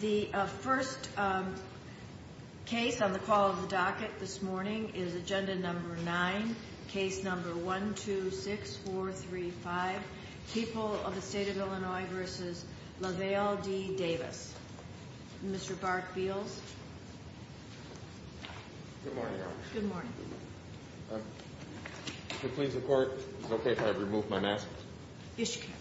The first case on the call of the docket this morning is Agenda No. 9, Case No. 126435, People of the State of Illinois v. Lavelle D. Davis. Mr. Bart Beals. Good morning, Your Honor. Good morning. To please the Court, is it okay if I remove my mask? Yes, you can.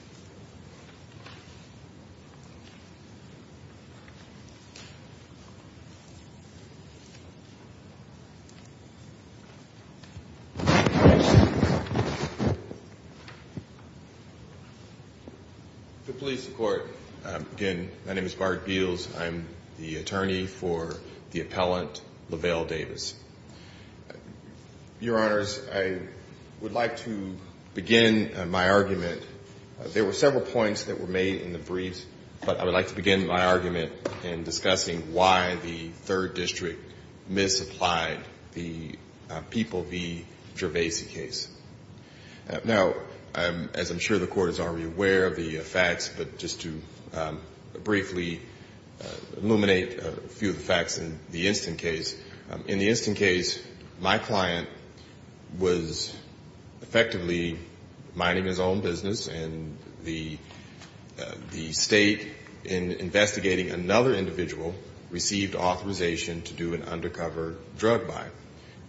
To please the Court, again, my name is Bart Beals. I'm the attorney for the appellant Lavelle Davis. Your Honor, I would like to begin my argument. There were several points that were made in the briefs, but I would like to begin my argument in discussing why the Third District misapplied the People v. Gervaisi case. Now, as I'm sure the Court is already aware of the facts, but just to briefly illuminate a few of the facts in the instant case, in the instant case, my client was effectively minding his own business, and the State, in investigating another individual, received authorization to do an undercover drug buy.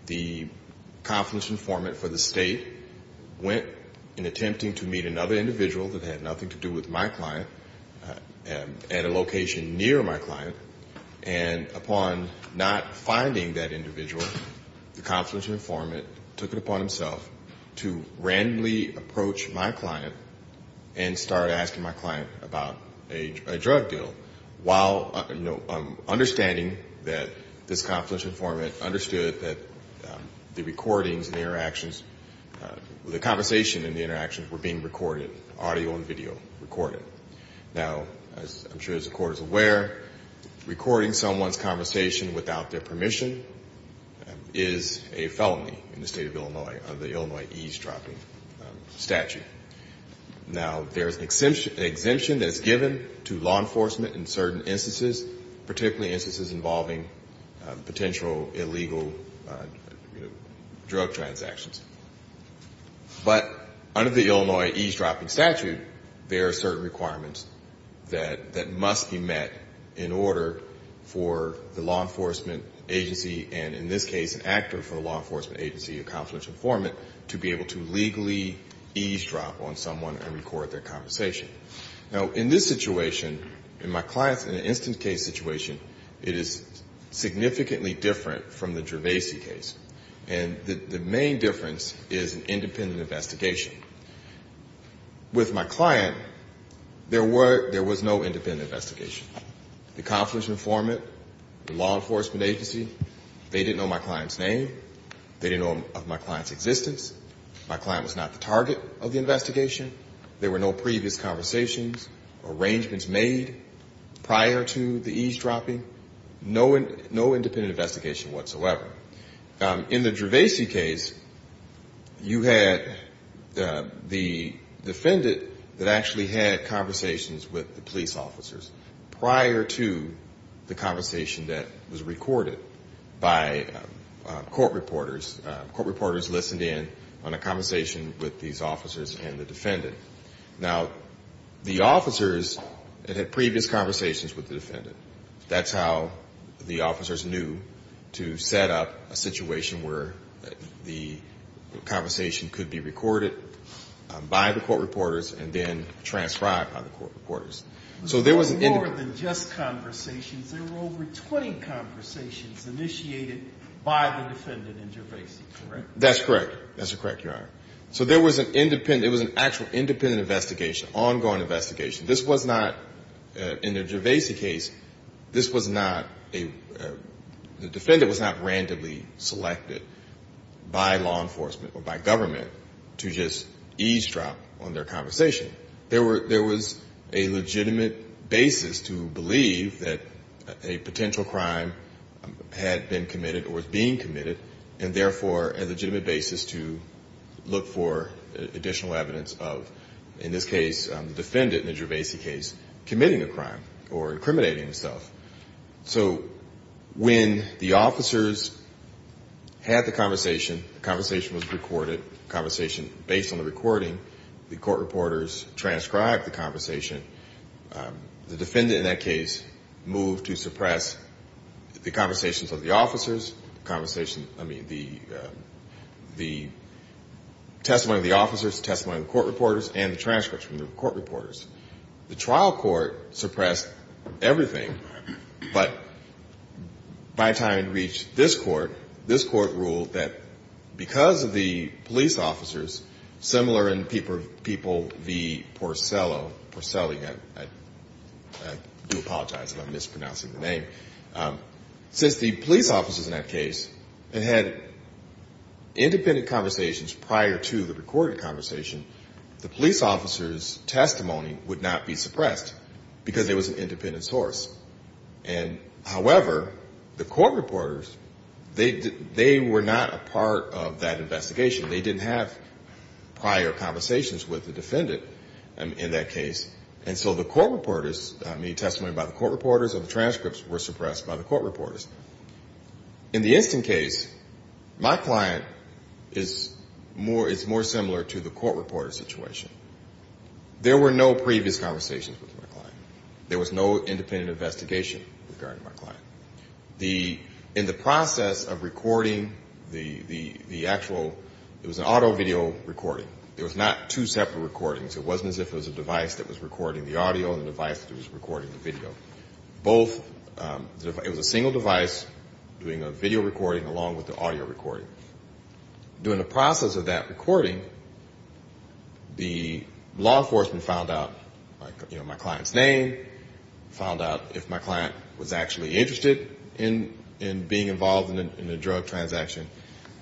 The confluence informant for the State went in attempting to meet another individual that had nothing to do with my client at a location near my client. And upon not finding that individual, the confluence informant took it upon himself to randomly approach my client and start asking my client about a drug deal, while understanding that this confluence informant understood that the recordings and the interactions, the conversation and the interactions were being recorded, audio and video recorded. Now, as I'm sure the Court is aware, recording someone's conversation without their permission is a felony in the State of Illinois under the Illinois eavesdropping statute. Now, there's an exemption that's given to law enforcement in certain instances, particularly instances involving potential illegal drug transactions. But under the Illinois eavesdropping statute, there are certain requirements that must be met in order for the law enforcement agency and, in this case, an actor for the law enforcement agency, a confluence informant, to be able to legally eavesdrop. Now, in this situation, in my client's instance case situation, it is significantly different from the Gervasey case. And the main difference is independent investigation. With my client, there was no independent investigation. The confluence informant, the law enforcement agency, they didn't know my client's name. They didn't know of my client's existence. My client was not the target of the investigation. There were no previous conversations, arrangements made prior to the eavesdropping. No independent investigation whatsoever. In the Gervasey case, you had the defendant that actually had conversations with the police officers prior to the conversation that was recorded by court reporters. Court reporters listened in on a conversation with these officers and the defendant. Now, the officers that had previous conversations with the defendant, that's how the officers knew to set up a situation where the conversation could be recorded by the court reporters and then transcribed by the court reporters. There were more than just conversations. There were over 20 conversations initiated by the defendant in Gervasey, correct? That's correct. That's correct, Your Honor. So there was an independent, it was an actual independent investigation, ongoing investigation. This was not, in the Gervasey case, this was not a, the defendant was not randomly selected by law enforcement or by government to just eavesdrop on their conversation. There was a legitimate basis to believe that a potential crime had been committed or was being committed, and therefore a legitimate basis to look for additional evidence of, in this case, the defendant in the Gervasey case, committing a crime or incriminating himself. So when the officers had the conversation, the conversation was recorded, the conversation based on the recording, the court reporters transcribed the conversation. The defendant in that case moved to suppress the conversations of the officers, the conversation, I mean, the testimony of the officers, the testimony of the court reporters, and the transcripts from the court reporters. The trial court suppressed everything, but by the time it reached this court, this court ruled that because of the police officers, similar in people, the Porcello, I do apologize if I'm mispronouncing the name, since the police officers in that case had independent conversations prior to the recorded conversation, the police officers' testimony was not recorded. Because there was an independent source. And, however, the court reporters, they were not a part of that investigation. They didn't have prior conversations with the defendant in that case. And so the court reporters, I mean, testimony by the court reporters or the transcripts were suppressed by the court reporters. In the instant case, my client is more similar to the court reporter situation. There were no previous conversations with my client. There was no independent investigation regarding my client. In the process of recording the actual, it was an auto video recording. It was not two separate recordings. It wasn't as if it was a device that was recording the audio and a device that was recording the video. Both, it was a single device doing a video recording along with the audio recording. During the process of that recording, the law enforcement found out, you know, my client's name, found out if my client was actually interested in being involved in a drug transaction.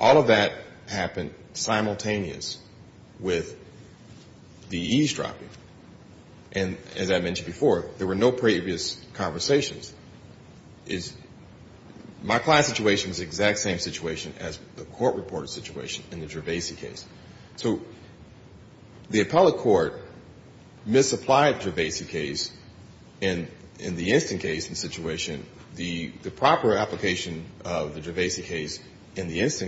All of that happened simultaneous with the eavesdropping. And as I mentioned before, there were no previous conversations. My client's situation is the exact same situation as the court reporter situation in the Gervaisi case. So the appellate court misapplied the Gervaisi case in the instant case situation. The proper application of the Gervaisi case in this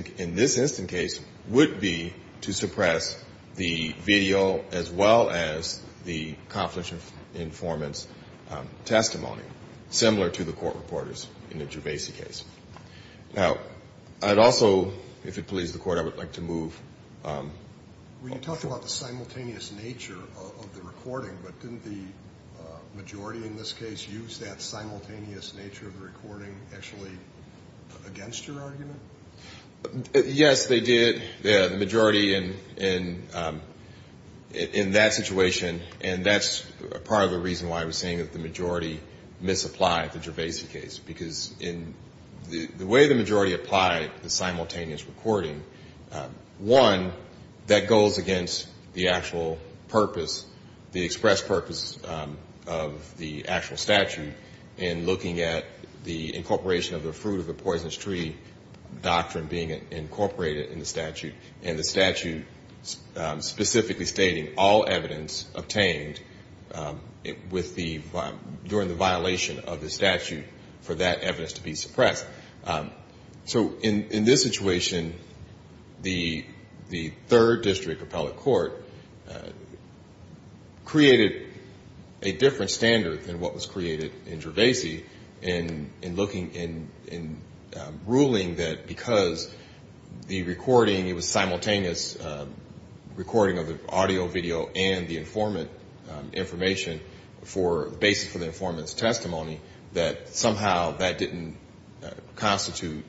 instant case would be to suppress the video as well as the confidential informant's testimony, similar to the court reporters in the Gervaisi case. Now, I'd also, if it pleases the court, I would like to move. Were you talking about the simultaneous nature of the recording, but didn't the majority in this case use that simultaneous nature of the recording actually against your argument? Yes, they did. The majority in that situation, and that's part of the reason why I was saying that the majority misapplied the Gervaisi case. Because in the way the majority applied the simultaneous recording, one, that goes against the actual purpose, the expressed purpose of the actual statute in looking at the incorporation of the fruit of the poisonous tree doctrine being incorporated in the statute. And the statute specifically stating all evidence obtained during the violation of the statute for that evidence to be suppressed. So in this situation, the third district appellate court created a different standard than what was created in Gervaisi in looking, in ruling that because the recording, it was simultaneous recording of the audio, video, and the informant information for the basis for the informant's testimony, that somehow that didn't correspond to the Gervaisi case. It didn't constitute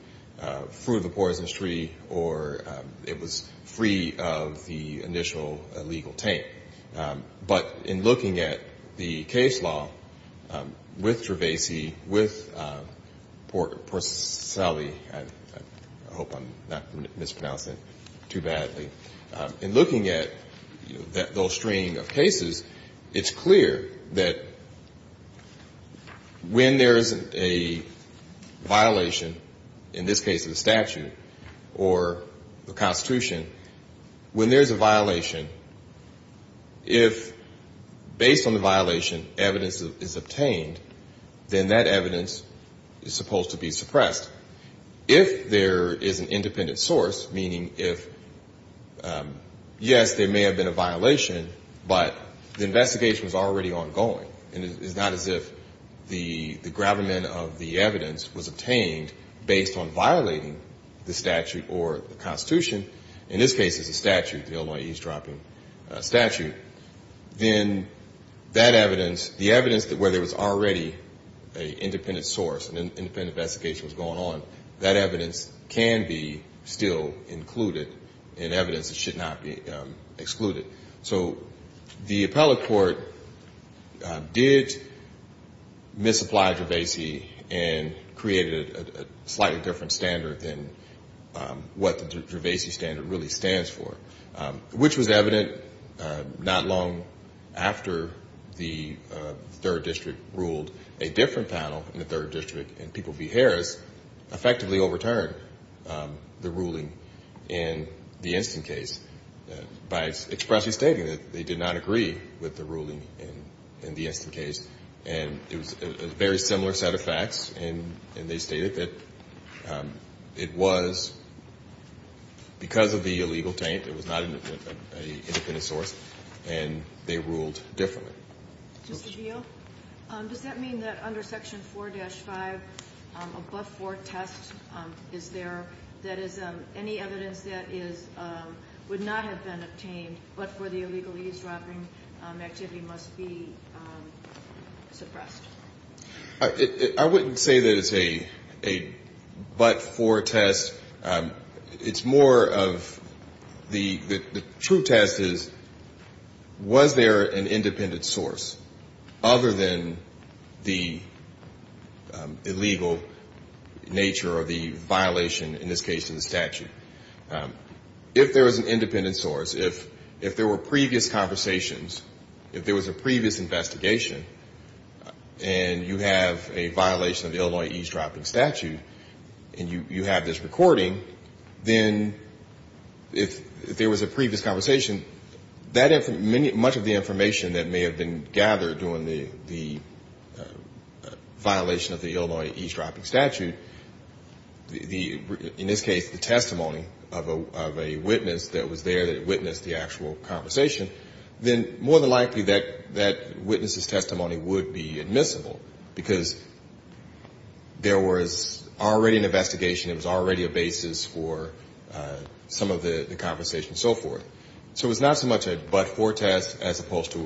fruit of the poisonous tree, or it was free of the initial legal taint. But in looking at the case law with Gervaisi, with Porcelli, I hope I'm not mispronouncing it too badly. In looking at those stream of cases, it's clear that when there's a violation, in this case of the statute or the Constitution, when there's a violation, if based on the violation, evidence is obtained, then that evidence is supposed to be suppressed. If there is an independent source, meaning if, yes, there may have been a violation, but the investigation was already ongoing, and it's not as if the gravamen of the evidence was obtained based on violating the statute or the Constitution. In this case, it's the statute, the Illinois eavesdropping statute, then that evidence, the evidence where there was already an independent source, an independent investigation was going on, that evidence can be still included in evidence that should not be excluded. So the appellate court did misapply Gervaisi and created a slightly different standard than what the Gervaisi standard really stands for, which was evident not long after the third district ruled a different panel in the third district, and people v. Harris effectively overturned the ruling in the instant case by expressing the fact that Gervaisi was not an independent source. They were actually stating that they did not agree with the ruling in the instant case, and it was a very similar set of facts, and they stated that it was because of the illegal taint, it was not an independent source, and they ruled differently. Ms. O'Neill, does that mean that under Section 4-5, a but-for test is there, that is, any evidence that would not have been obtained but for the illegal eavesdropping activity must be suppressed? I wouldn't say that it's a but-for test. It's more of the true test is, was there an independent source other than the illegal nature or the violation, in this case, of the statute? If there was an independent source, if there were previous conversations, if there was a previous investigation, and you have a violation of the Illinois eavesdropping statute, and you have this recording, then if there was a previous conversation, much of the information that may have been gathered during the violation of the Illinois eavesdropping statute, in this case, the testimonies, of a witness that was there that witnessed the actual conversation, then more than likely that witness's testimony would be admissible, because there was already an investigation, it was already a basis for some of the conversation and so forth. So it's not so much a but-for test as opposed to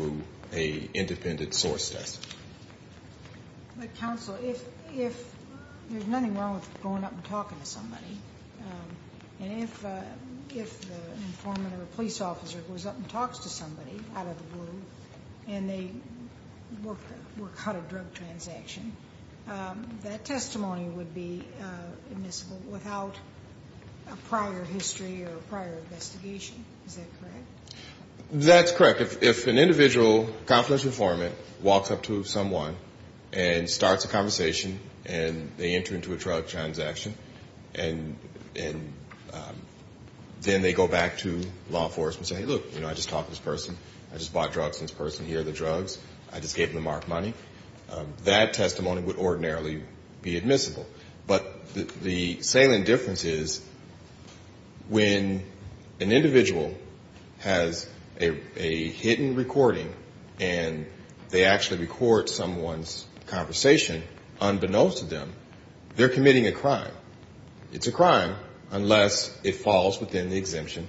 an independent source test. Counsel, if there's nothing wrong with going up and talking to somebody, and if an informant or a police officer goes up and talks to somebody out of the blue, and they work out a drug transaction, that testimony would be admissible without a prior history or prior investigation. Is that correct? That's correct. If an individual, a confidential informant, walks up to someone and starts a conversation, and they enter into a drug transaction, and then they go back to law enforcement and say, hey, look, I just talked to this person, I just bought drugs from this person, here are the drugs, I just gave them the marked money, that testimony would ordinarily be admissible. But the salient difference is when an individual has a hidden recording, and they actually record someone's conversation unbeknownst to them, they're committing a crime. It's a crime, unless it falls within the exemption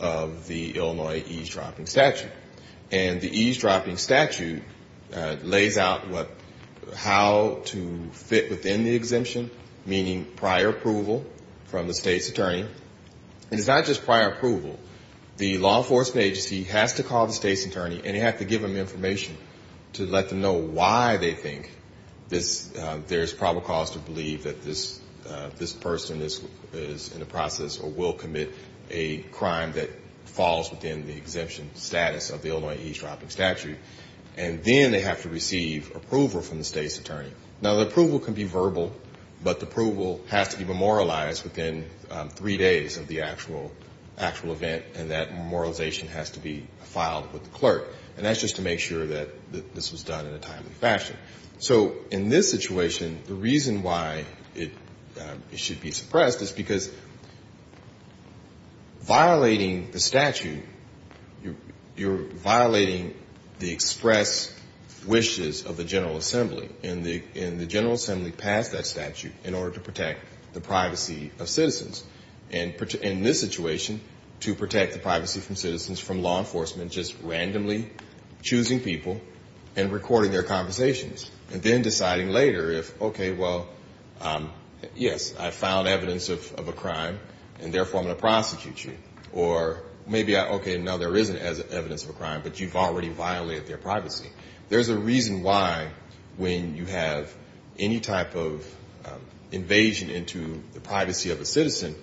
of the Illinois eavesdropping statute. And the eavesdropping statute lays out how to fit within the exemption, meaning prior approval from the state's attorney. And it's not just prior approval. The law enforcement agency has to call the state's attorney, and they have to give them information to let them know why they think there's probable cause to believe that this person is in the process or will commit a crime that falls within the exemption status of the state's attorney. And then they have to receive approval from the state's attorney. Now, the approval can be verbal, but the approval has to be memorialized within three days of the actual event, and that memorialization has to be filed with the clerk. And that's just to make sure that this was done in a timely fashion. So in this situation, the reason why it should be suppressed is because violating the statute, you're violating the express wishes of the General Assembly, and the General Assembly passed that statute in order to protect the privacy of citizens. And in this situation, to protect the privacy of citizens from law enforcement just randomly choosing people and recording their conversations, and then deciding later if, okay, well, yes, I found evidence of a crime, and therefore I'm going to prosecute you, or maybe, okay, no, there isn't evidence of a crime, but you've already violated their privacy. There's a reason why when you have any type of invasion into the privacy of a citizen,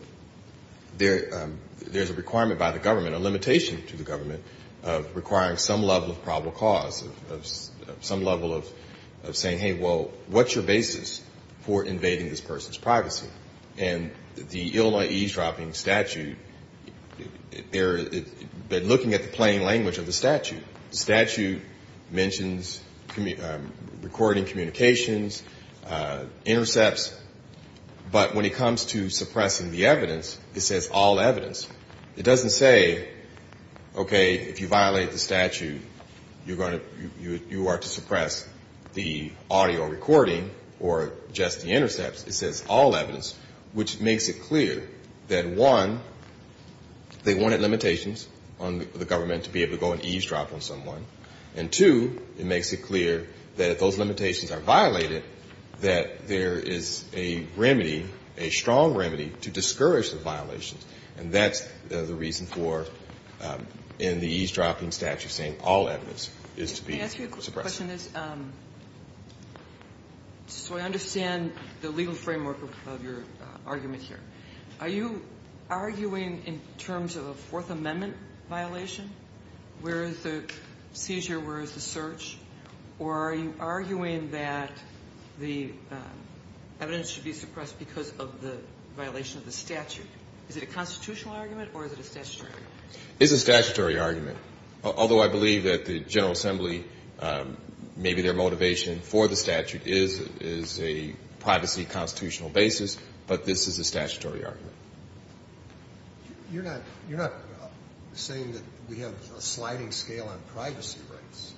there's a requirement by the government, a limitation to the government, of requiring some level of probable cause, of some level of saying, hey, well, what's your basis for invading this person's privacy? And the Illinois eavesdropping statute, they're looking at the plain language of the statute. The statute mentions recording communications, intercepts, but when it comes to suppressing the evidence, it says all evidence. It doesn't say, okay, if you violate the statute, you're going to you are to suppress the audio recording or just the intercepts. It says all evidence, which makes it clear that, one, they wanted limitations on the government to be able to go and eavesdrop on someone, and, two, it makes it clear that if those limitations are violated, that there is a remedy, a strong remedy, to discourage the violations. That's the reason for, in the eavesdropping statute, saying all evidence is to be suppressed. Can I ask you a question? So I understand the legal framework of your argument here. Are you arguing in terms of a Fourth Amendment violation? Where is the seizure? Where is the search? Or are you arguing that the evidence should be suppressed because of the violation of the statute? Is it a constitutional argument or is it a statutory argument? It's a statutory argument, although I believe that the General Assembly, maybe their motivation for the statute is a privacy constitutional basis, but this is a statutory argument. You're not saying that we have a sliding scale on privacy rights.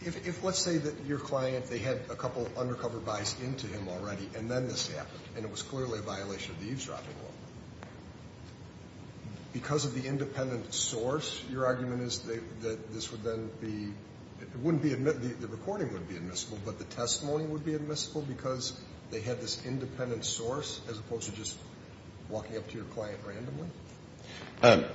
If let's say that your client, they had a couple undercover buys into him already and then this happened and it was clearly a violation of the eavesdropping law, because of the independent source, your argument is that this would then be, it wouldn't be admissible, the recording wouldn't be admissible, but the testimony would be admissible because they had this independent source as opposed to just walking up to your client randomly?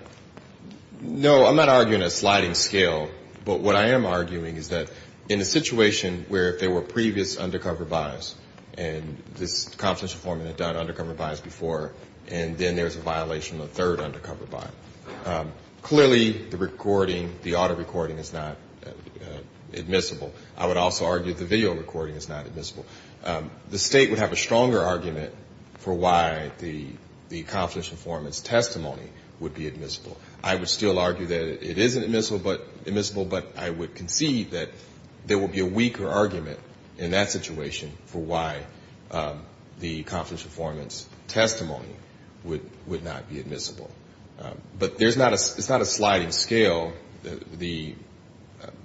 No, I'm not arguing a sliding scale, but what I am arguing is that in a situation where if there were previous undercover buys and this confidential form had done undercover buys before and then there was a violation of the third undercover buy, clearly the recording, the auto recording is not admissible. I would also argue the video recording is not admissible. The State would have a stronger argument for why the confidential form is testable would be admissible. I would still argue that it isn't admissible, but I would concede that there would be a weaker argument in that situation for why the confidential form's testimony would not be admissible. But it's not a sliding scale. The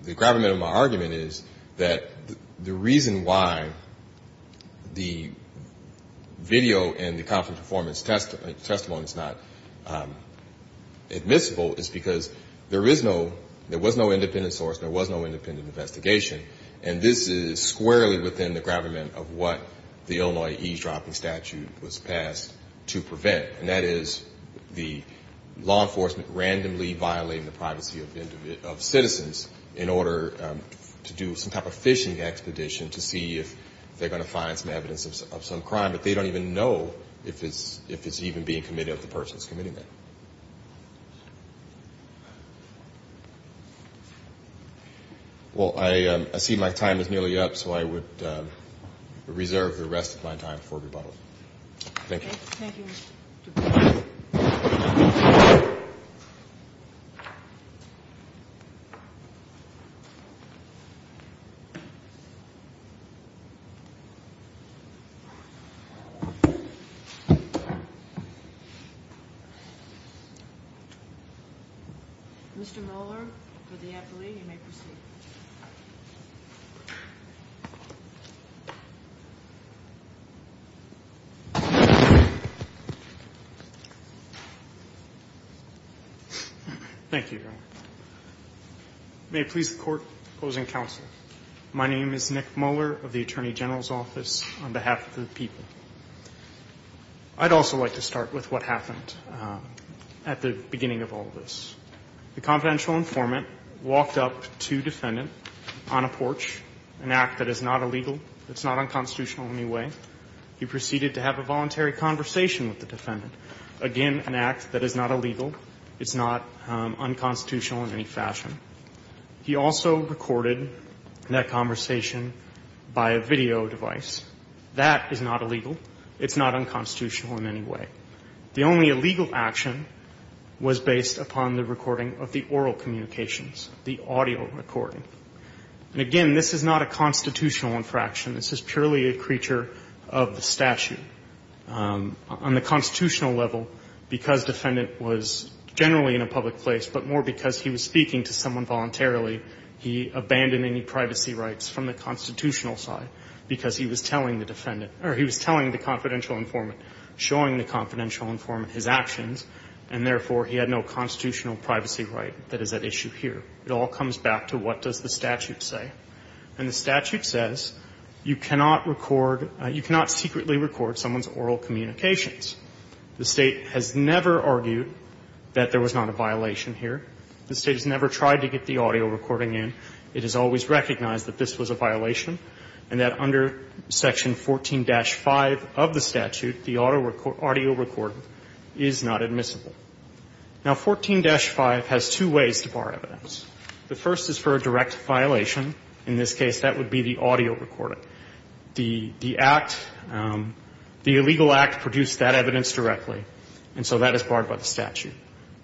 gravamen of my argument is that the reason why the video and the confidential form's testimony is not admissible is because there is no, there was no independent source, there was no independent investigation, and this is squarely within the gravamen of what the Illinois eavesdropping statute was passed to prevent, and that is the law enforcement randomly violating the privacy of citizens in order to do some type of phishing expedition to see if they're going to find some evidence of some crime, but they don't even know if it's even being committed or if the person's committing it. Well, I see my time is nearly up, so I would reserve the rest of my time for rebuttal. Thank you. Thank you, Mr. Dupree. Mr. Rohler, for the affilee, you may proceed. Thank you, Your Honor. May it please the Court, opposing counsel, my name is Nick Mohler of the Attorney General's Office on behalf of the people. I'd also like to start with what happened at the beginning of all of this. The confidential informant walked up to defendant on a porch, an act that is not illegal, it's not unconstitutional in any way. He proceeded to have a voluntary conversation with the defendant. Again, an act that is not illegal, it's not unconstitutional in any fashion. He also recorded that conversation by a video device. That is not illegal. It's not unconstitutional in any way. The only illegal action was based upon the recording of the oral communications, the audio recording. And again, this is not a constitutional infraction. This is purely a creature of the statute. On the constitutional level, because defendant was generally in a public place, but more because he was speaking to someone voluntarily, he abandoned any privacy rights from the constitutional side because he was telling the defendant or he was telling the confidential informant, showing the confidential informant his actions, and therefore he had no constitutional privacy right. That is at issue here. It all comes back to what does the statute say. And the statute says you cannot record, you cannot secretly record someone's oral communications. The State has never argued that there was not a violation here. The State has never tried to get the audio recording in. It has always recognized that this was a violation and that under Section 14-5 of the statute, it is not permissible. Now, 14-5 has two ways to bar evidence. The first is for a direct violation. In this case, that would be the audio recording. The act, the illegal act produced that evidence directly, and so that is barred by the statute.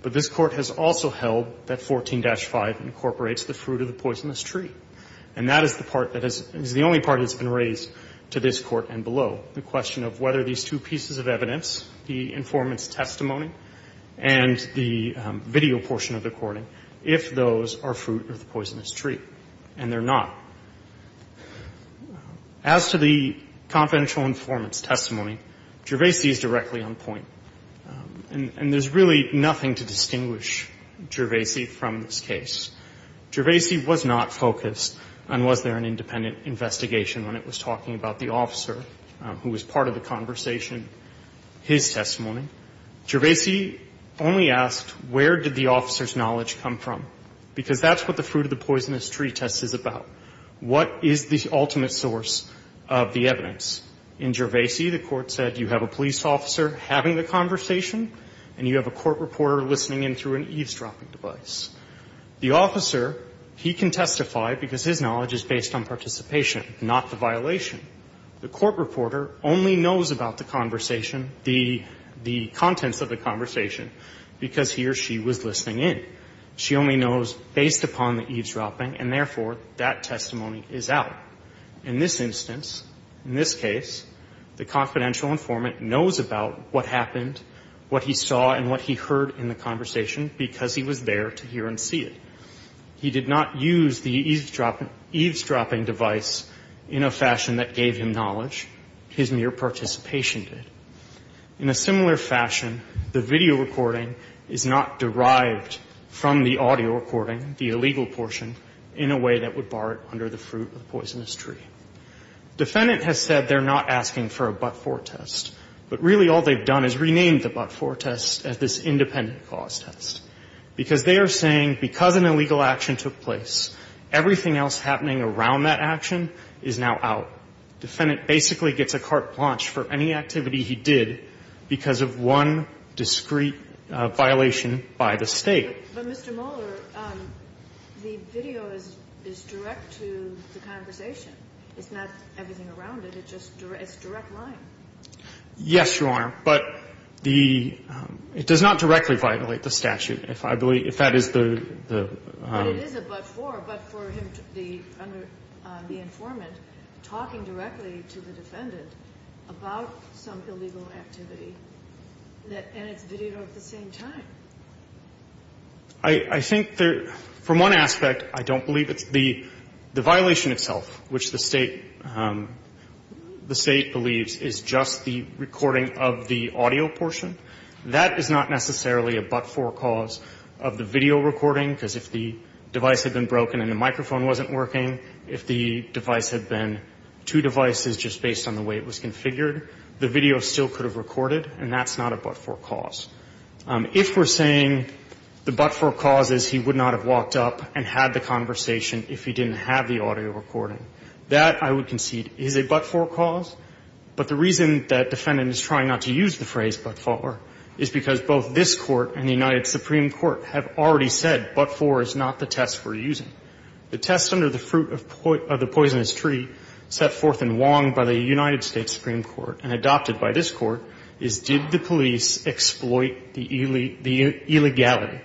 But this Court has also held that 14-5 incorporates the fruit of the poisonous tree. And that is the part that is the only part that's been raised to this Court and below, the question of whether these two pieces of evidence, the informant's testimony and the video portion of the recording, if those are fruit of the poisonous tree. And they're not. As to the confidential informant's testimony, Gervaisi is directly on point. And there's really nothing to distinguish Gervaisi from this case. Gervaisi was not focused on was there an independent investigation when it was talking about the officer who was part of the conversation, his testimony. Gervaisi only asked where did the officer's knowledge come from, because that's what the fruit of the poisonous tree test is about. What is the ultimate source of the evidence? In Gervaisi, the Court said you have a police officer having the conversation and you have a court reporter listening in through an eavesdropping device. The officer, he can testify because his knowledge is based on participation, not the violation. The court reporter only knows about the conversation, the contents of the conversation, because he or she was listening in. She only knows based upon the eavesdropping, and therefore, that testimony is out. In this instance, in this case, the confidential informant knows about what happened, what he saw and what he heard in the conversation, because he was there to hear and see it. He did not use the eavesdropping device in a fashion that gave him knowledge. His mere participation did. In a similar fashion, the video recording is not derived from the audio recording, the illegal portion, in a way that would bar it under the fruit of the poisonous tree. Defendant has said they're not asking for a but-for test, but really all they've done is renamed the but-for test as this independent cause test, because they are saying because an illegal action took place, everything else happening around that action is now out. Defendant basically gets a carte blanche for any activity he did because of one discreet violation by the State. But, Mr. Mohler, the video is direct to the conversation. It's not everything around it. It's just direct line. Yes, Your Honor. But the — it does not directly violate the statute, if I believe — if that is the — But it is a but-for, but for him to be under — the informant talking directly to the defendant about some illegal activity that — and it's videoed at the same time. I think there — from one aspect, I don't believe it's the — the violation itself, which the State — the State believes is just the recording of the audio portion. That is not necessarily a but-for cause of the video recording, because if the device had been broken and the microphone wasn't working, if the device had been two devices just based on the way it was configured, the video still could have recorded, and that's not a but-for cause. If we're saying the but-for cause is he would not have walked up and had the conversation if he didn't have the audio recording. That, I would concede, is a but-for cause, but the reason that defendant is trying not to use the phrase but-for is because both this Court and the United Supreme Court have already said but-for is not the test we're using. The test under the fruit of — of the poisonous tree set forth in Wong by the United States Supreme Court and adopted by this Court is did the police exploit the — the illegality?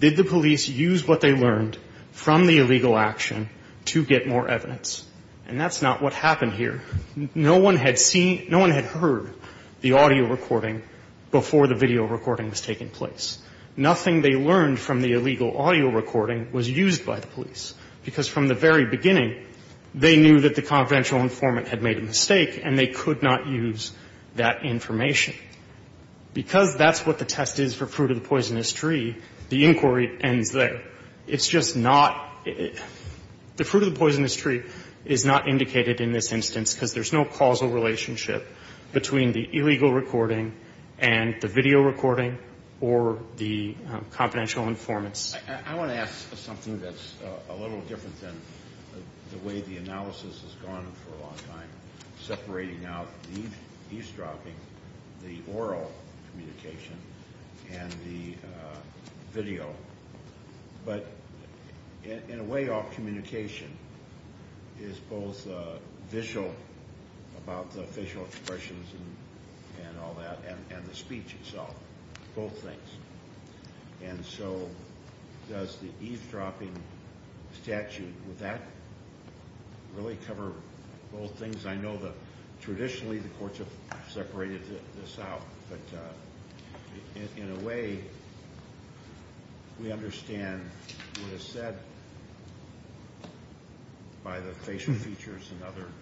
Did the police use what they learned from the illegal action to get more evidence? And that's not what happened here. No one had seen — no one had heard the audio recording before the video recording was taking place. Nothing they learned from the illegal audio recording was used by the police, because from the very beginning, they knew that the confidential informant had made a mistake and they could not use that information. Because that's what the test is for fruit of the poisonous tree, the inquiry ends there. It's just not — the fruit of the poisonous tree is not indicated in this instance because there's no causal relationship between the illegal recording and the video recording or the confidential informants. I want to ask something that's a little different than the way the analysis has gone on for a long time, separating out the eavesdropping, the oral communication, and the video. But in a way, all communication is both visual, about the facial expressions and all that, and the speech itself, both things. And so does the eavesdropping statute, would that really cover both things? I know that traditionally the courts have separated this out, but in a way, we understand what is said by the facial features and other —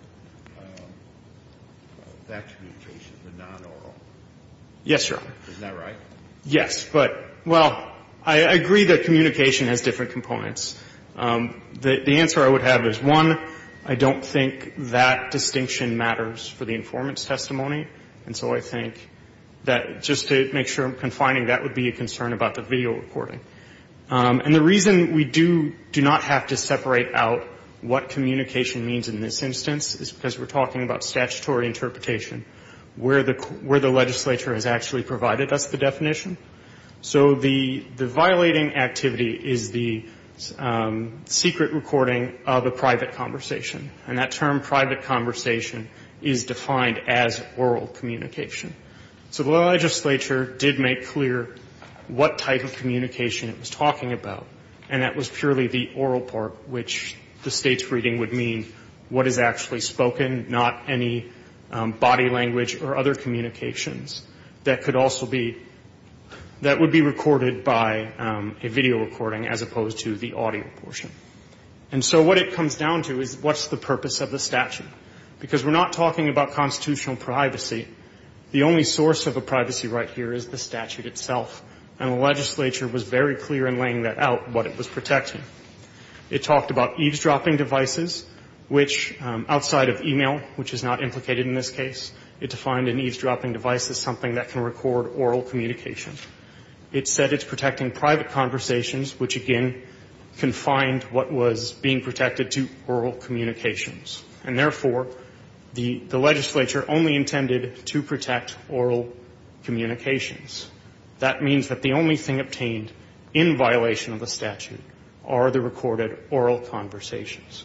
that communication, the non-oral. Yes, sir. Isn't that right? Yes, but — well, I agree that communication has different components. The answer I would have is, one, I don't think that distinction matters for the informant's testimony, and so I think that just to make sure I'm confining, that would be a concern about the video recording. And the reason we do not have to separate out what communication means in this instance is because we're talking about statutory interpretation, where the legislature has actually provided us the definition. So the violating activity is the secret recording of a private conversation. And that term, private conversation, is defined as oral communication. So the legislature did make clear what type of communication it was talking about, and that was purely the oral part, which the State's reading would mean what is actually spoken, not any body language or other communications that could also be — that would be recorded by a video recording as opposed to the audio portion. And so what it comes down to is, what's the purpose of the statute? Because we're not talking about constitutional privacy. The only source of a privacy right here is the statute itself, and the legislature was very clear in laying that out, what it was protecting. It talked about eavesdropping devices, which, outside of e-mail, which is not implicated in this case, it defined an eavesdropping device as something that can record oral communication. It said it's protecting private conversations, which, again, confined what was being protected to oral communications. And therefore, the legislature only intended to protect oral communications. That means that the only thing obtained in violation of the statute are the recorded oral conversations.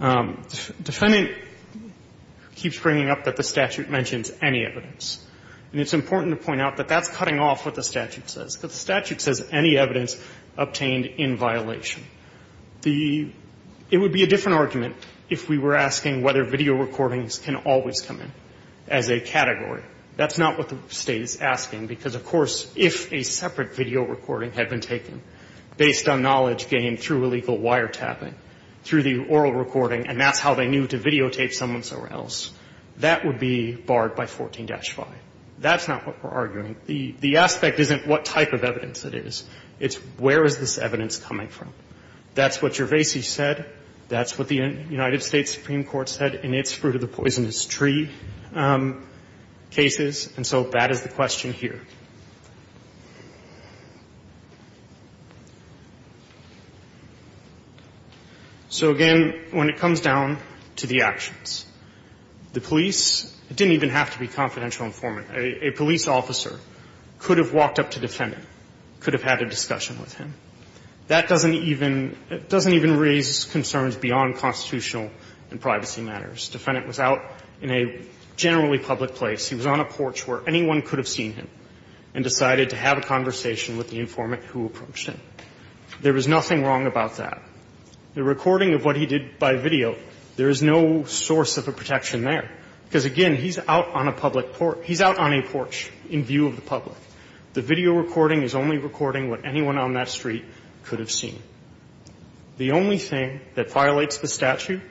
Defendant keeps bringing up that the statute mentions any evidence. And it's important to point out that that's cutting off what the statute says, because the statute says any evidence obtained in violation. The — it would be a different argument if we were asking whether video recordings can always come in as a category. That's not what the State is asking, because, of course, if a separate video recording had been taken based on knowledge gained through illegal wiretapping, through the oral recording, and that's how they knew to videotape someone somewhere else, that would be barred by 14-5. That's not what we're arguing. The aspect isn't what type of evidence it is. It's where is this evidence coming from. That's what Gervaisi said. That's what the United States Supreme Court said in its Fruit of the Poisonous Tree cases. And so that is the question here. So, again, when it comes down to the actions, the police didn't even have to be confidential informant. A police officer could have walked up to defendant, could have had a discussion with him. That doesn't even — it doesn't even raise concerns beyond constitutional and privacy matters. This defendant was out in a generally public place. He was on a porch where anyone could have seen him, and decided to have a conversation with the informant who approached him. There was nothing wrong about that. The recording of what he did by video, there is no source of a protection there, because, again, he's out on a public porch. He's out on a porch in view of the public. The video recording is only recording what anyone on that street could have seen. The only thing that violates the statute,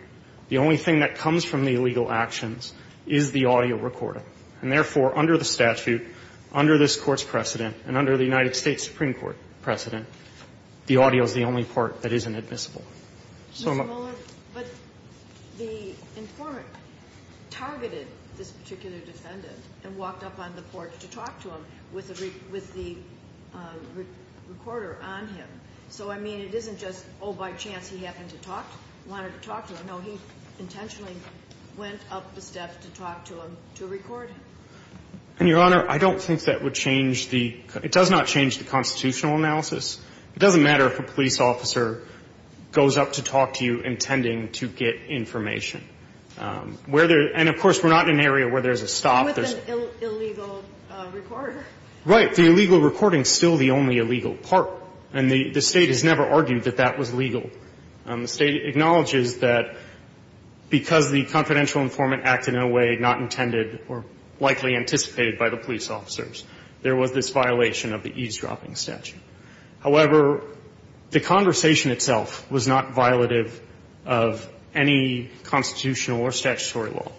the only thing that comes from the illegal actions is the audio recording. And, therefore, under the statute, under this Court's precedent, and under the United States Supreme Court precedent, the audio is the only part that isn't admissible. So I'm not — But the informant targeted this particular defendant and walked up on the porch to talk to him with the recorder on him. So, I mean, it isn't just, oh, by chance he happened to talk, wanted to talk to him. No, he intentionally went up the steps to talk to him to record him. And, Your Honor, I don't think that would change the — it does not change the constitutional analysis. It doesn't matter if a police officer goes up to talk to you intending to get information. Where there — and, of course, we're not in an area where there's a stop. With an illegal recorder. Right. The illegal recording is still the only illegal part. And the State has never argued that that was legal. The State acknowledges that because the confidential informant acted in a way not intended or likely anticipated by the police officers, there was this violation of the eavesdropping statute. However, the conversation itself was not violative of any constitutional or statutory law.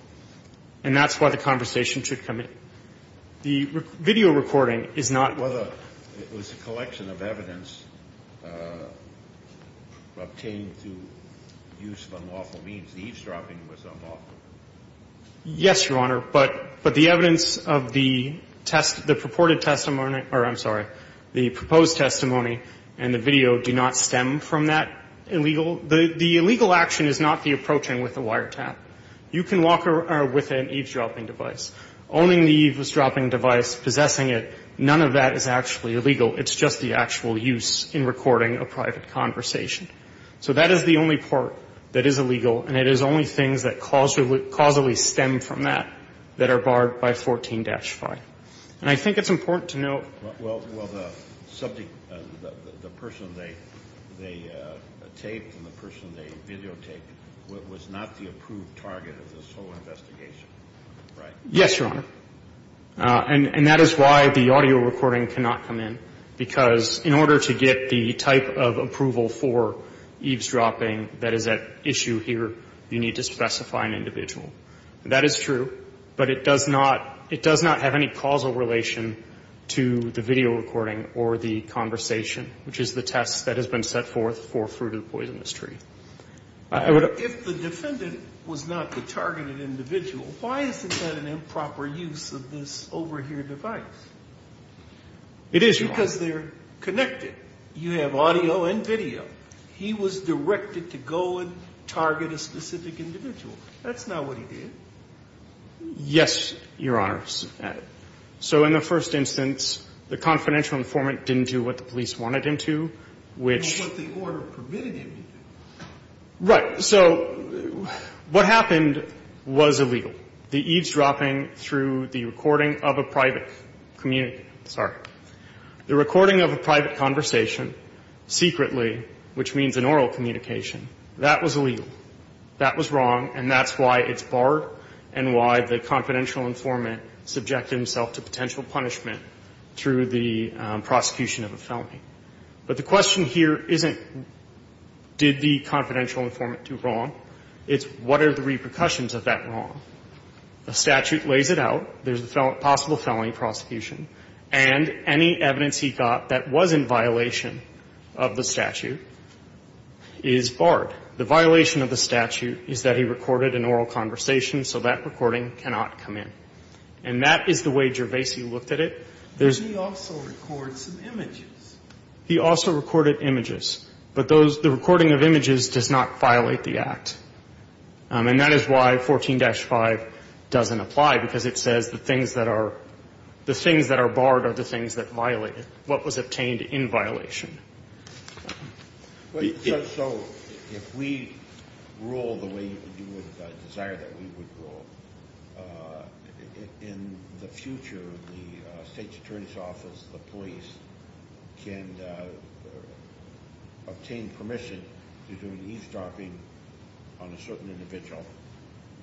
And that's why the conversation should come in. The video recording is not — It was a collection of evidence obtained through use of unlawful means. The eavesdropping was unlawful. Yes, Your Honor. But the evidence of the purported testimony — or, I'm sorry, the proposed testimony and the video do not stem from that illegal — the illegal action is not the approaching with a wiretap. You can walk with an eavesdropping device. Owning the eavesdropping device, possessing it, none of that is actually illegal. It's just the actual use in recording a private conversation. So that is the only part that is illegal, and it is only things that causally stem from that, that are barred by 14-5. And I think it's important to note — Well, the subject — the person they taped and the person they videotaped was not the approved target of this whole investigation, right? Yes, Your Honor. And that is why the audio recording cannot come in, because in order to get the type of approval for eavesdropping that is at issue here, you need to specify an individual. That is true, but it does not — it does not have any causal relation to the video recording or the conversation, which is the test that has been set forth for Fruit of the Poisonous Tree. I would — If the defendant was not the targeted individual, why isn't that an improper use of this overhear device? It is, Your Honor. Because they're connected. You have audio and video. He was directed to go and target a specific individual. That's not what he did. Yes, Your Honor. So in the first instance, the confidential informant didn't do what the police wanted him to, which — Well, what the order permitted him to do. Right. So what happened was illegal. The eavesdropping through the recording of a private communi — sorry. The recording of a private conversation secretly, which means an oral communication, that was illegal. That was wrong, and that's why it's barred and why the confidential informant subjected himself to potential punishment through the prosecution of a felony. But the question here isn't did the confidential informant do wrong. It's what are the repercussions of that wrong. The statute lays it out. There's the possible felony prosecution. And any evidence he got that was in violation of the statute is barred. The violation of the statute is that he recorded an oral conversation, so that recording cannot come in. And that is the way Gervaisi looked at it. But he also recorded some images. He also recorded images. But those — the recording of images does not violate the Act. And that is why 14-5 doesn't apply, because it says the things that are — the things that are barred are the things that violate it, what was obtained in violation. So if we rule the way you would desire that we would rule, in the future, the state's attorney's office, the police, can obtain permission to do an e-stalking on a certain individual.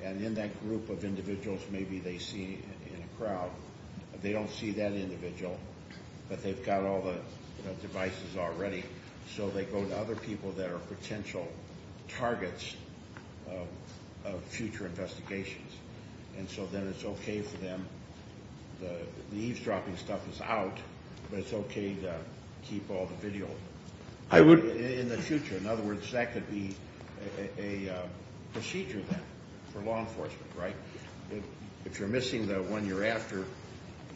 And in that group of individuals, maybe they see in a crowd, they don't see that individual, but they've got all the devices already. So they go to other people that are potential targets of future investigations. And so then it's okay for them — the eavesdropping stuff is out, but it's okay to keep all the video — I would —— in the future. In other words, that could be a procedure then for law enforcement, right? If you're missing the one you're after,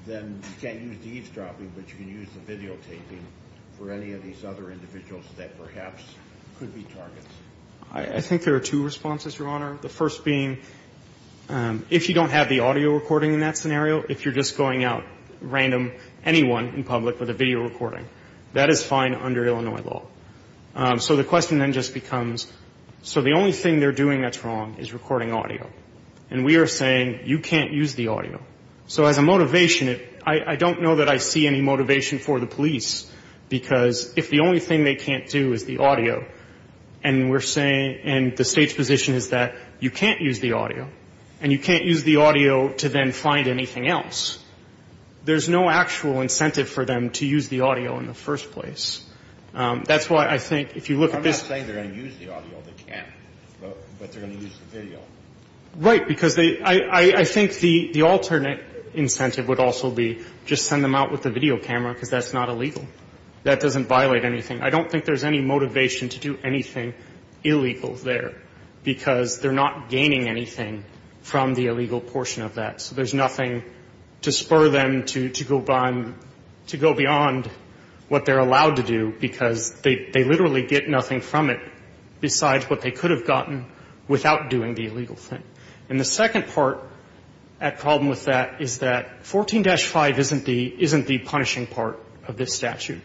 then you can't use the eavesdropping, but you can use the videotaping for any of these other individuals that perhaps could be targets. I think there are two responses, Your Honor. The first being, if you don't have the audio recording in that scenario, if you're just going out random anyone in public with a video recording, that is fine under Illinois law. So the question then just becomes, so the only thing they're doing that's wrong is recording audio. And we are saying, you can't use the audio. So as a motivation, I don't know that I see any motivation for the police, because if the only thing they can't do is the audio, and we're saying — and the State's position is that you can't use the audio, and you can't use the audio to then find anything else, there's no actual incentive for them to use the audio in the first place. That's why I think if you look at this — But they're going to use the video. Right, because I think the alternate incentive would also be just send them out with a video camera, because that's not illegal. That doesn't violate anything. I don't think there's any motivation to do anything illegal there, because they're not gaining anything from the illegal portion of that. So there's nothing to spur them to go beyond what they're allowed to do, because they literally get nothing from it besides what they could have gotten without doing the illegal thing. And the second part at problem with that is that 14-5 isn't the — isn't the punishing part of this statute.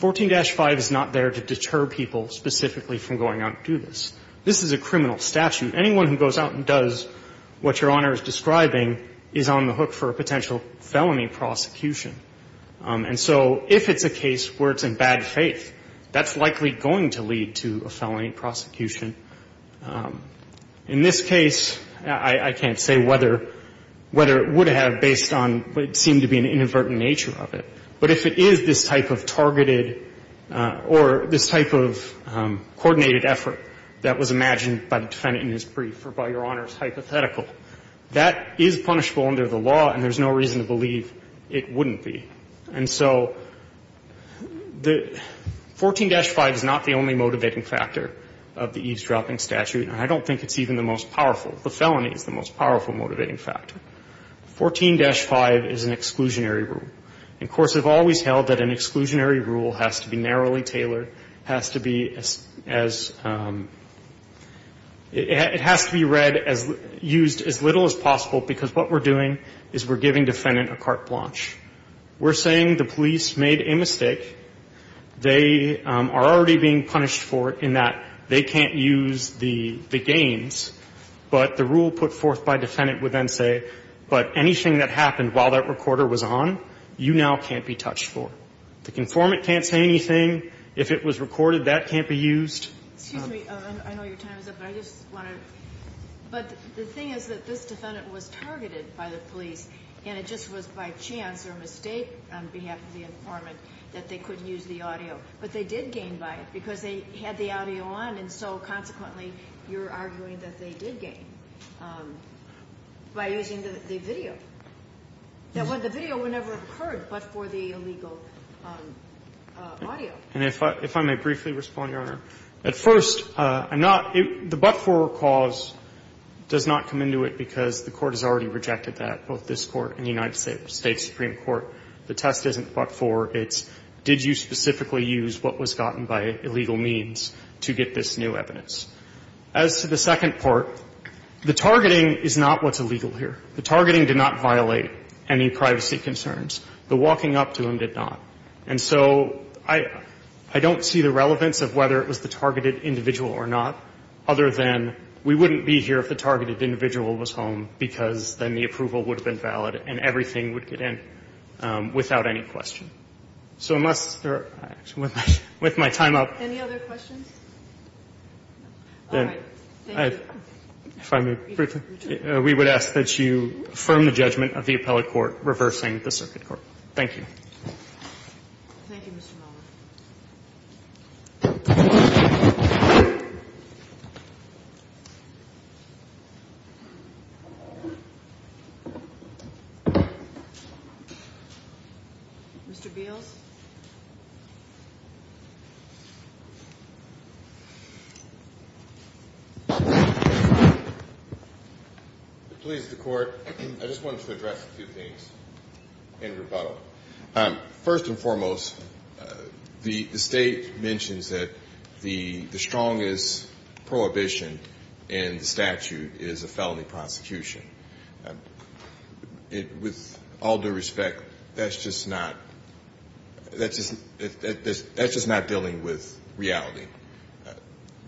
14-5 is not there to deter people specifically from going out to do this. This is a criminal statute. Anyone who goes out and does what Your Honor is describing is on the hook for a potential felony prosecution. And so if it's a case where it's in bad faith, that's likely going to lead to a felony prosecution. In this case, I can't say whether — whether it would have based on what seemed to be an inadvertent nature of it. But if it is this type of targeted or this type of coordinated effort that was imagined by the defendant in his brief or by Your Honor's hypothetical, that is punishable under the law, and there's no reason to believe it wouldn't be. And so the — 14-5 is not the only motivating factor of the eavesdropping statute. And I don't think it's even the most powerful. The felony is the most powerful motivating factor. 14-5 is an exclusionary rule. And courts have always held that an exclusionary rule has to be narrowly tailored, has to be as — it has to be read as — used as little as possible, because what we're doing is we're giving defendant a carte blanche. We're saying the police made a mistake. They are already being punished for it in that they can't use the — the games. But the rule put forth by defendant would then say, but anything that happened while that recorder was on, you now can't be touched for. The conformant can't say anything. If it was recorded, that can't be used. Excuse me. I know your time is up, but I just want to — but the thing is that this defendant was targeted by the police, and it just was by chance or mistake on behalf of the informant that they couldn't use the audio. But they did gain by it because they had the audio on, and so, consequently, you're arguing that they did gain by using the video. The video would never have occurred but for the illegal audio. And if I may briefly respond, Your Honor, at first, I'm not — the but-for cause does not come into it because the Court has already rejected that, both this Court and the United States Supreme Court. The test isn't but-for. It's did you specifically use what was gotten by illegal means to get this new evidence. As to the second part, the targeting is not what's illegal here. The targeting did not violate any privacy concerns. The walking up to them did not. And so I don't see the relevance of whether it was the targeted individual or not, other than we wouldn't be here if the targeted individual was home because then the approval would have been valid and everything would get in without any question. So unless — with my time up — Any other questions? All right. Thank you. If I may briefly — we would ask that you affirm the judgment of the appellate court reversing the circuit court. Thank you. Thank you, Mr. Miller. Mr. Beals? Please, the Court. I just wanted to address a few things in rebuttal. First and foremost, the State mentions that the strongest prohibition in the statute is a felony prosecution. With all due respect, that's just not — that's just not dealing with reality.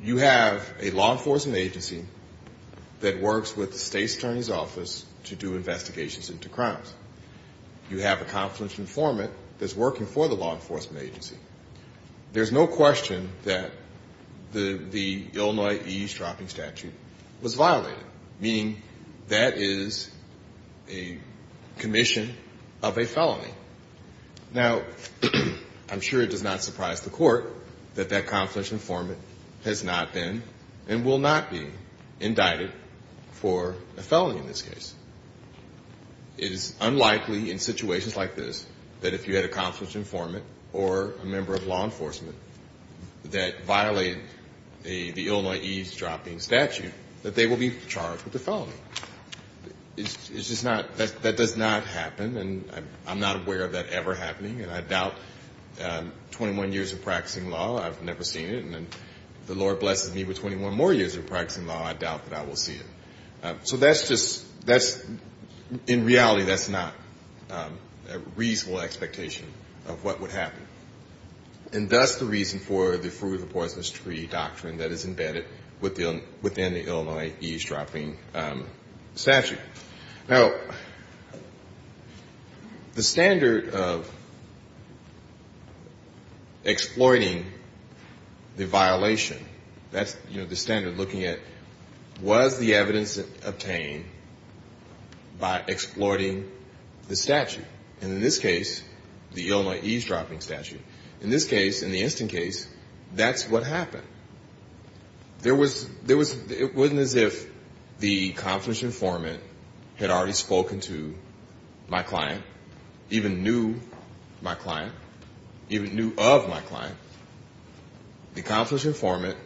You have a law enforcement agency that works with the State's attorney's office to do investigations into crimes. You have a confluence informant that's working for the law enforcement agency. There's no question that the Illinois eavesdropping statute was violated, meaning that that is a commission of a felony. Now, I'm sure it does not surprise the Court that that confluence informant has not been and will not be indicted for a felony in this case. It is unlikely in situations like this that if you had a confluence informant or a member of law It's just not — that does not happen, and I'm not aware of that ever happening. And I doubt 21 years of practicing law. I've never seen it. And if the Lord blesses me with 21 more years of practicing law, I doubt that I will see it. So that's just — that's — in reality, that's not a reasonable expectation of what would happen. And thus the reason for the Fruit of the Poisonous Tree doctrine that is embedded within the Now, the standard of exploiting the violation, that's, you know, the standard looking at was the evidence obtained by exploiting the statute? And in this case, the Illinois eavesdropping statute. In this case, in the instant case, that's what happened. There was — there was — it wasn't as if the confluence informant had already spoken to my client, even knew my client, even knew of my client. The confluence informant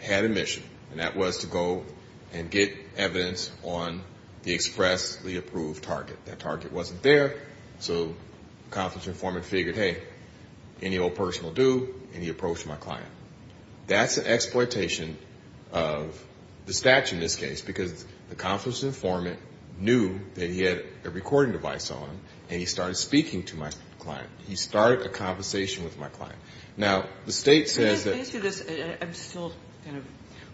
had a mission, and that was to go and get evidence on the expressly approved target. That target wasn't there, so the confluence informant figured, hey, any old person will do, and he approached my client. That's an exploitation of the statute in this case, because the confluence informant knew that he had a recording device on, and he started speaking to my client. He started a conversation with my client. Now, the state says that — I guess I'll kind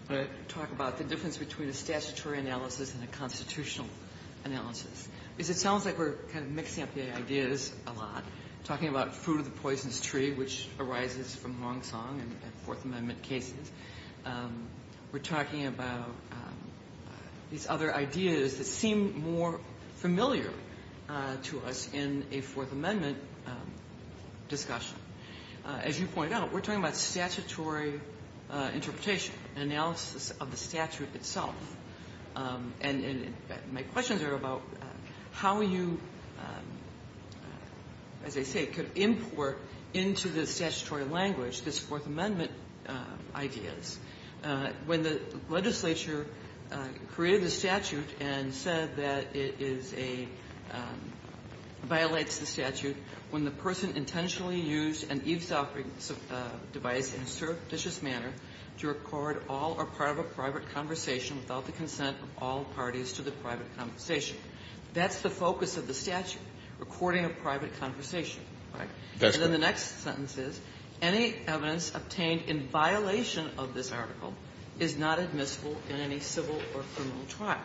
of talk about the difference between a statutory analysis and a constitutional analysis, because it sounds like we're kind of mixing up the ideas a lot, talking about fruit of the poisonous tree, which arises from Hong Song and Fourth Amendment cases. We're talking about these other ideas that seem more familiar to us in a Fourth Amendment discussion. As you point out, we're talking about statutory interpretation, analysis of the statute itself. And my questions are about how you, as I say, could import into the statutory language this Fourth Amendment ideas. When the legislature created a statute and said that it is a — violates the statute, when the person intentionally used an eavesdropping device in a surreptitious manner to record all or part of a private conversation without the consent of all parties to the private conversation. That's the focus of the statute, recording a private conversation, right? And then the next sentence is, any evidence obtained in violation of this article is not admissible in any civil or criminal trial.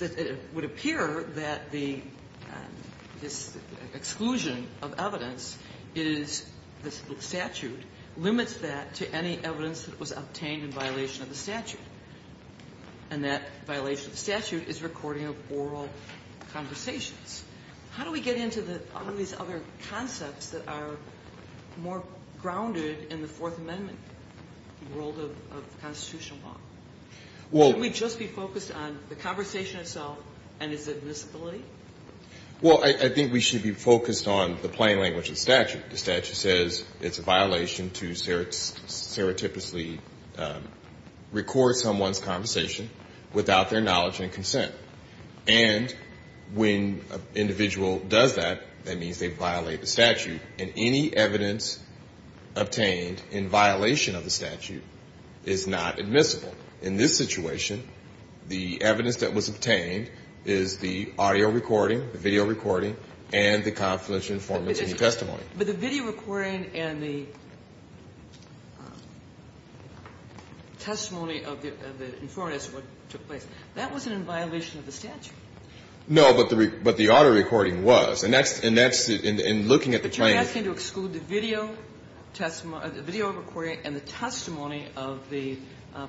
Now, it would appear that the — this exclusion of evidence is — the statute limits that to any evidence that was obtained in violation of the statute. And that violation of the statute is recording of oral conversations. How do we get into the — all these other concepts that are more grounded in the Fourth Amendment world of constitutional law? Can we just be focused on the conversation itself and its admissibility? Well, I think we should be focused on the plain language of the statute. The statute says it's a violation to stereotypically record someone's conversation without their knowledge and consent. And when an individual does that, that means they violate the statute. And any evidence obtained in violation of the statute is not admissible. In this situation, the evidence that was obtained is the audio recording, the video recording, and the confidential informant's testimony. But the video recording and the testimony of the informant as to what took place, that wasn't in violation of the statute. No, but the audio recording was. And that's — and looking at the plain — You're asking to exclude the video testimony — the video recording and the testimony of the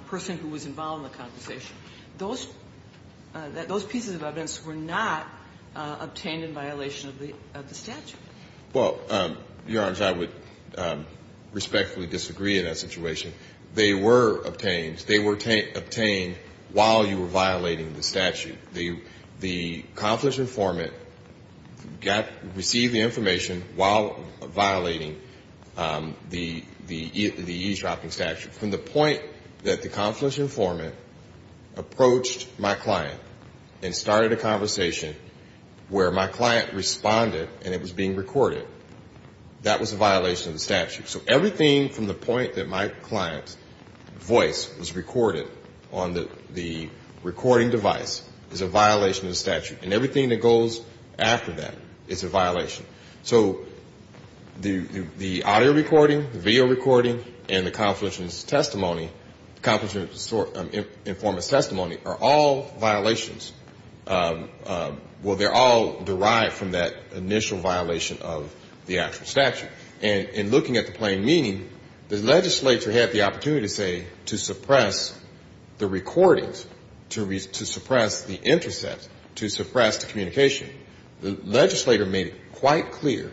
person who was involved in the conversation. Those pieces of evidence were not obtained in violation of the statute. Well, Your Honor, I would respectfully disagree in that situation. They were obtained. They were obtained while you were violating the statute. The confidential informant received the information while violating the eavesdropping statute. From the point that the confidential informant approached my client and started a conversation where my client responded and it was being recorded, that was a violation of the statute. So everything from the point that my client's voice was recorded on the recording device is a violation of the statute. And everything that goes after that is a violation. So the audio recording, the video recording, and the confidential informant's testimony are all violations. Well, they're all derived from that initial violation of the actual statute. And looking at the plain meaning, the legislature had the opportunity, say, to suppress the recordings, to suppress the intercepts, to suppress the communication. The legislator made it quite clear,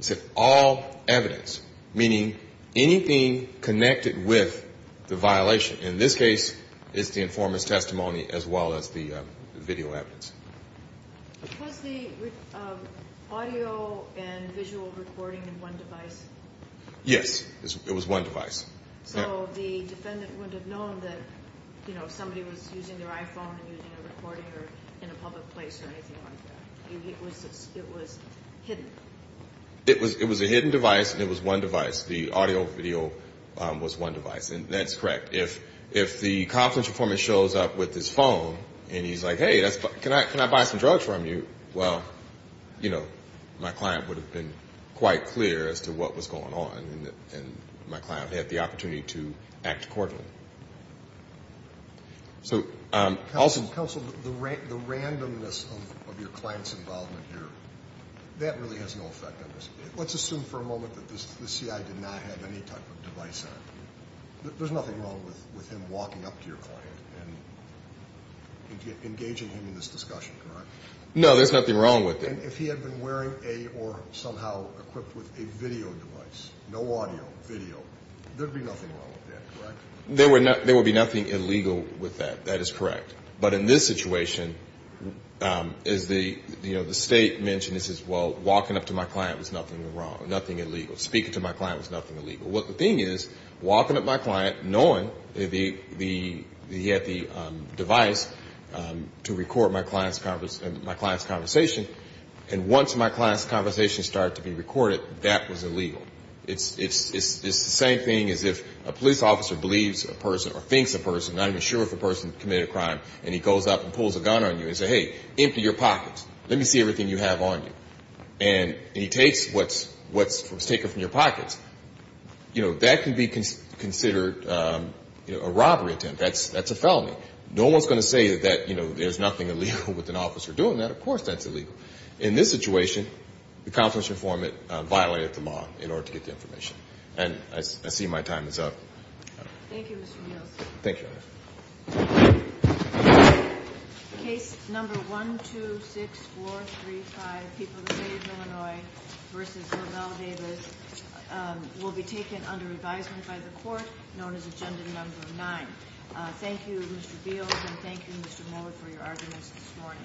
said all evidence, meaning anything connected with the violation. In this case, it's the informant's testimony as well as the video evidence. Was the audio and visual recording in one device? Yes. It was one device. So the defendant would have known that somebody was using their iPhone and using a recording or in a public place or anything like that. It was hidden. It was a hidden device and it was one device. The audio video was one device. And that's correct. If the confidential informant shows up with his phone and he's like, hey, can I buy some drugs from you? Well, you know, my client would have been quite clear as to what was going on and my client would have had the opportunity to act accordingly. Counsel, the randomness of your client's involvement here, that really has no effect on this. Let's assume for a moment that the CI did not have any type of device on. There's nothing wrong with him walking up to your client and engaging him in this discussion, correct? No, there's nothing wrong with it. And if he had been wearing a or somehow equipped with a video device, no audio, video, there would be nothing wrong with that, correct? There would be nothing illegal with that. That is correct. But in this situation, as the State mentioned, it says, well, walking up to my client was nothing wrong, nothing illegal. Speaking to my client was nothing illegal. But the thing is, walking up to my client, knowing that he had the device to record my client's conversation, and once my client's conversation started to be recorded, that was illegal. It's the same thing as if a police officer believes a person or thinks a person, not even sure if a person committed a crime, and he goes up and pulls a gun on you and says, hey, empty your pockets. Let me see everything you have on you. And he takes what's taken from your pockets. You know, that can be considered a robbery attempt. That's a felony. No one's going to say that, you know, there's nothing illegal with an officer doing that. Of course that's illegal. In this situation, the constitutional informant violated the law in order to get the information. And I see my time is up. Thank you, Mr. Nielsen. Thank you, Your Honor. Case number 126435, People of the State of Illinois v. Lavelle Davis, will be taken under advisement by the court, known as Agenda Number 9. Thank you, Mr. Beals, and thank you, Mr. Mohler, for your arguments this morning.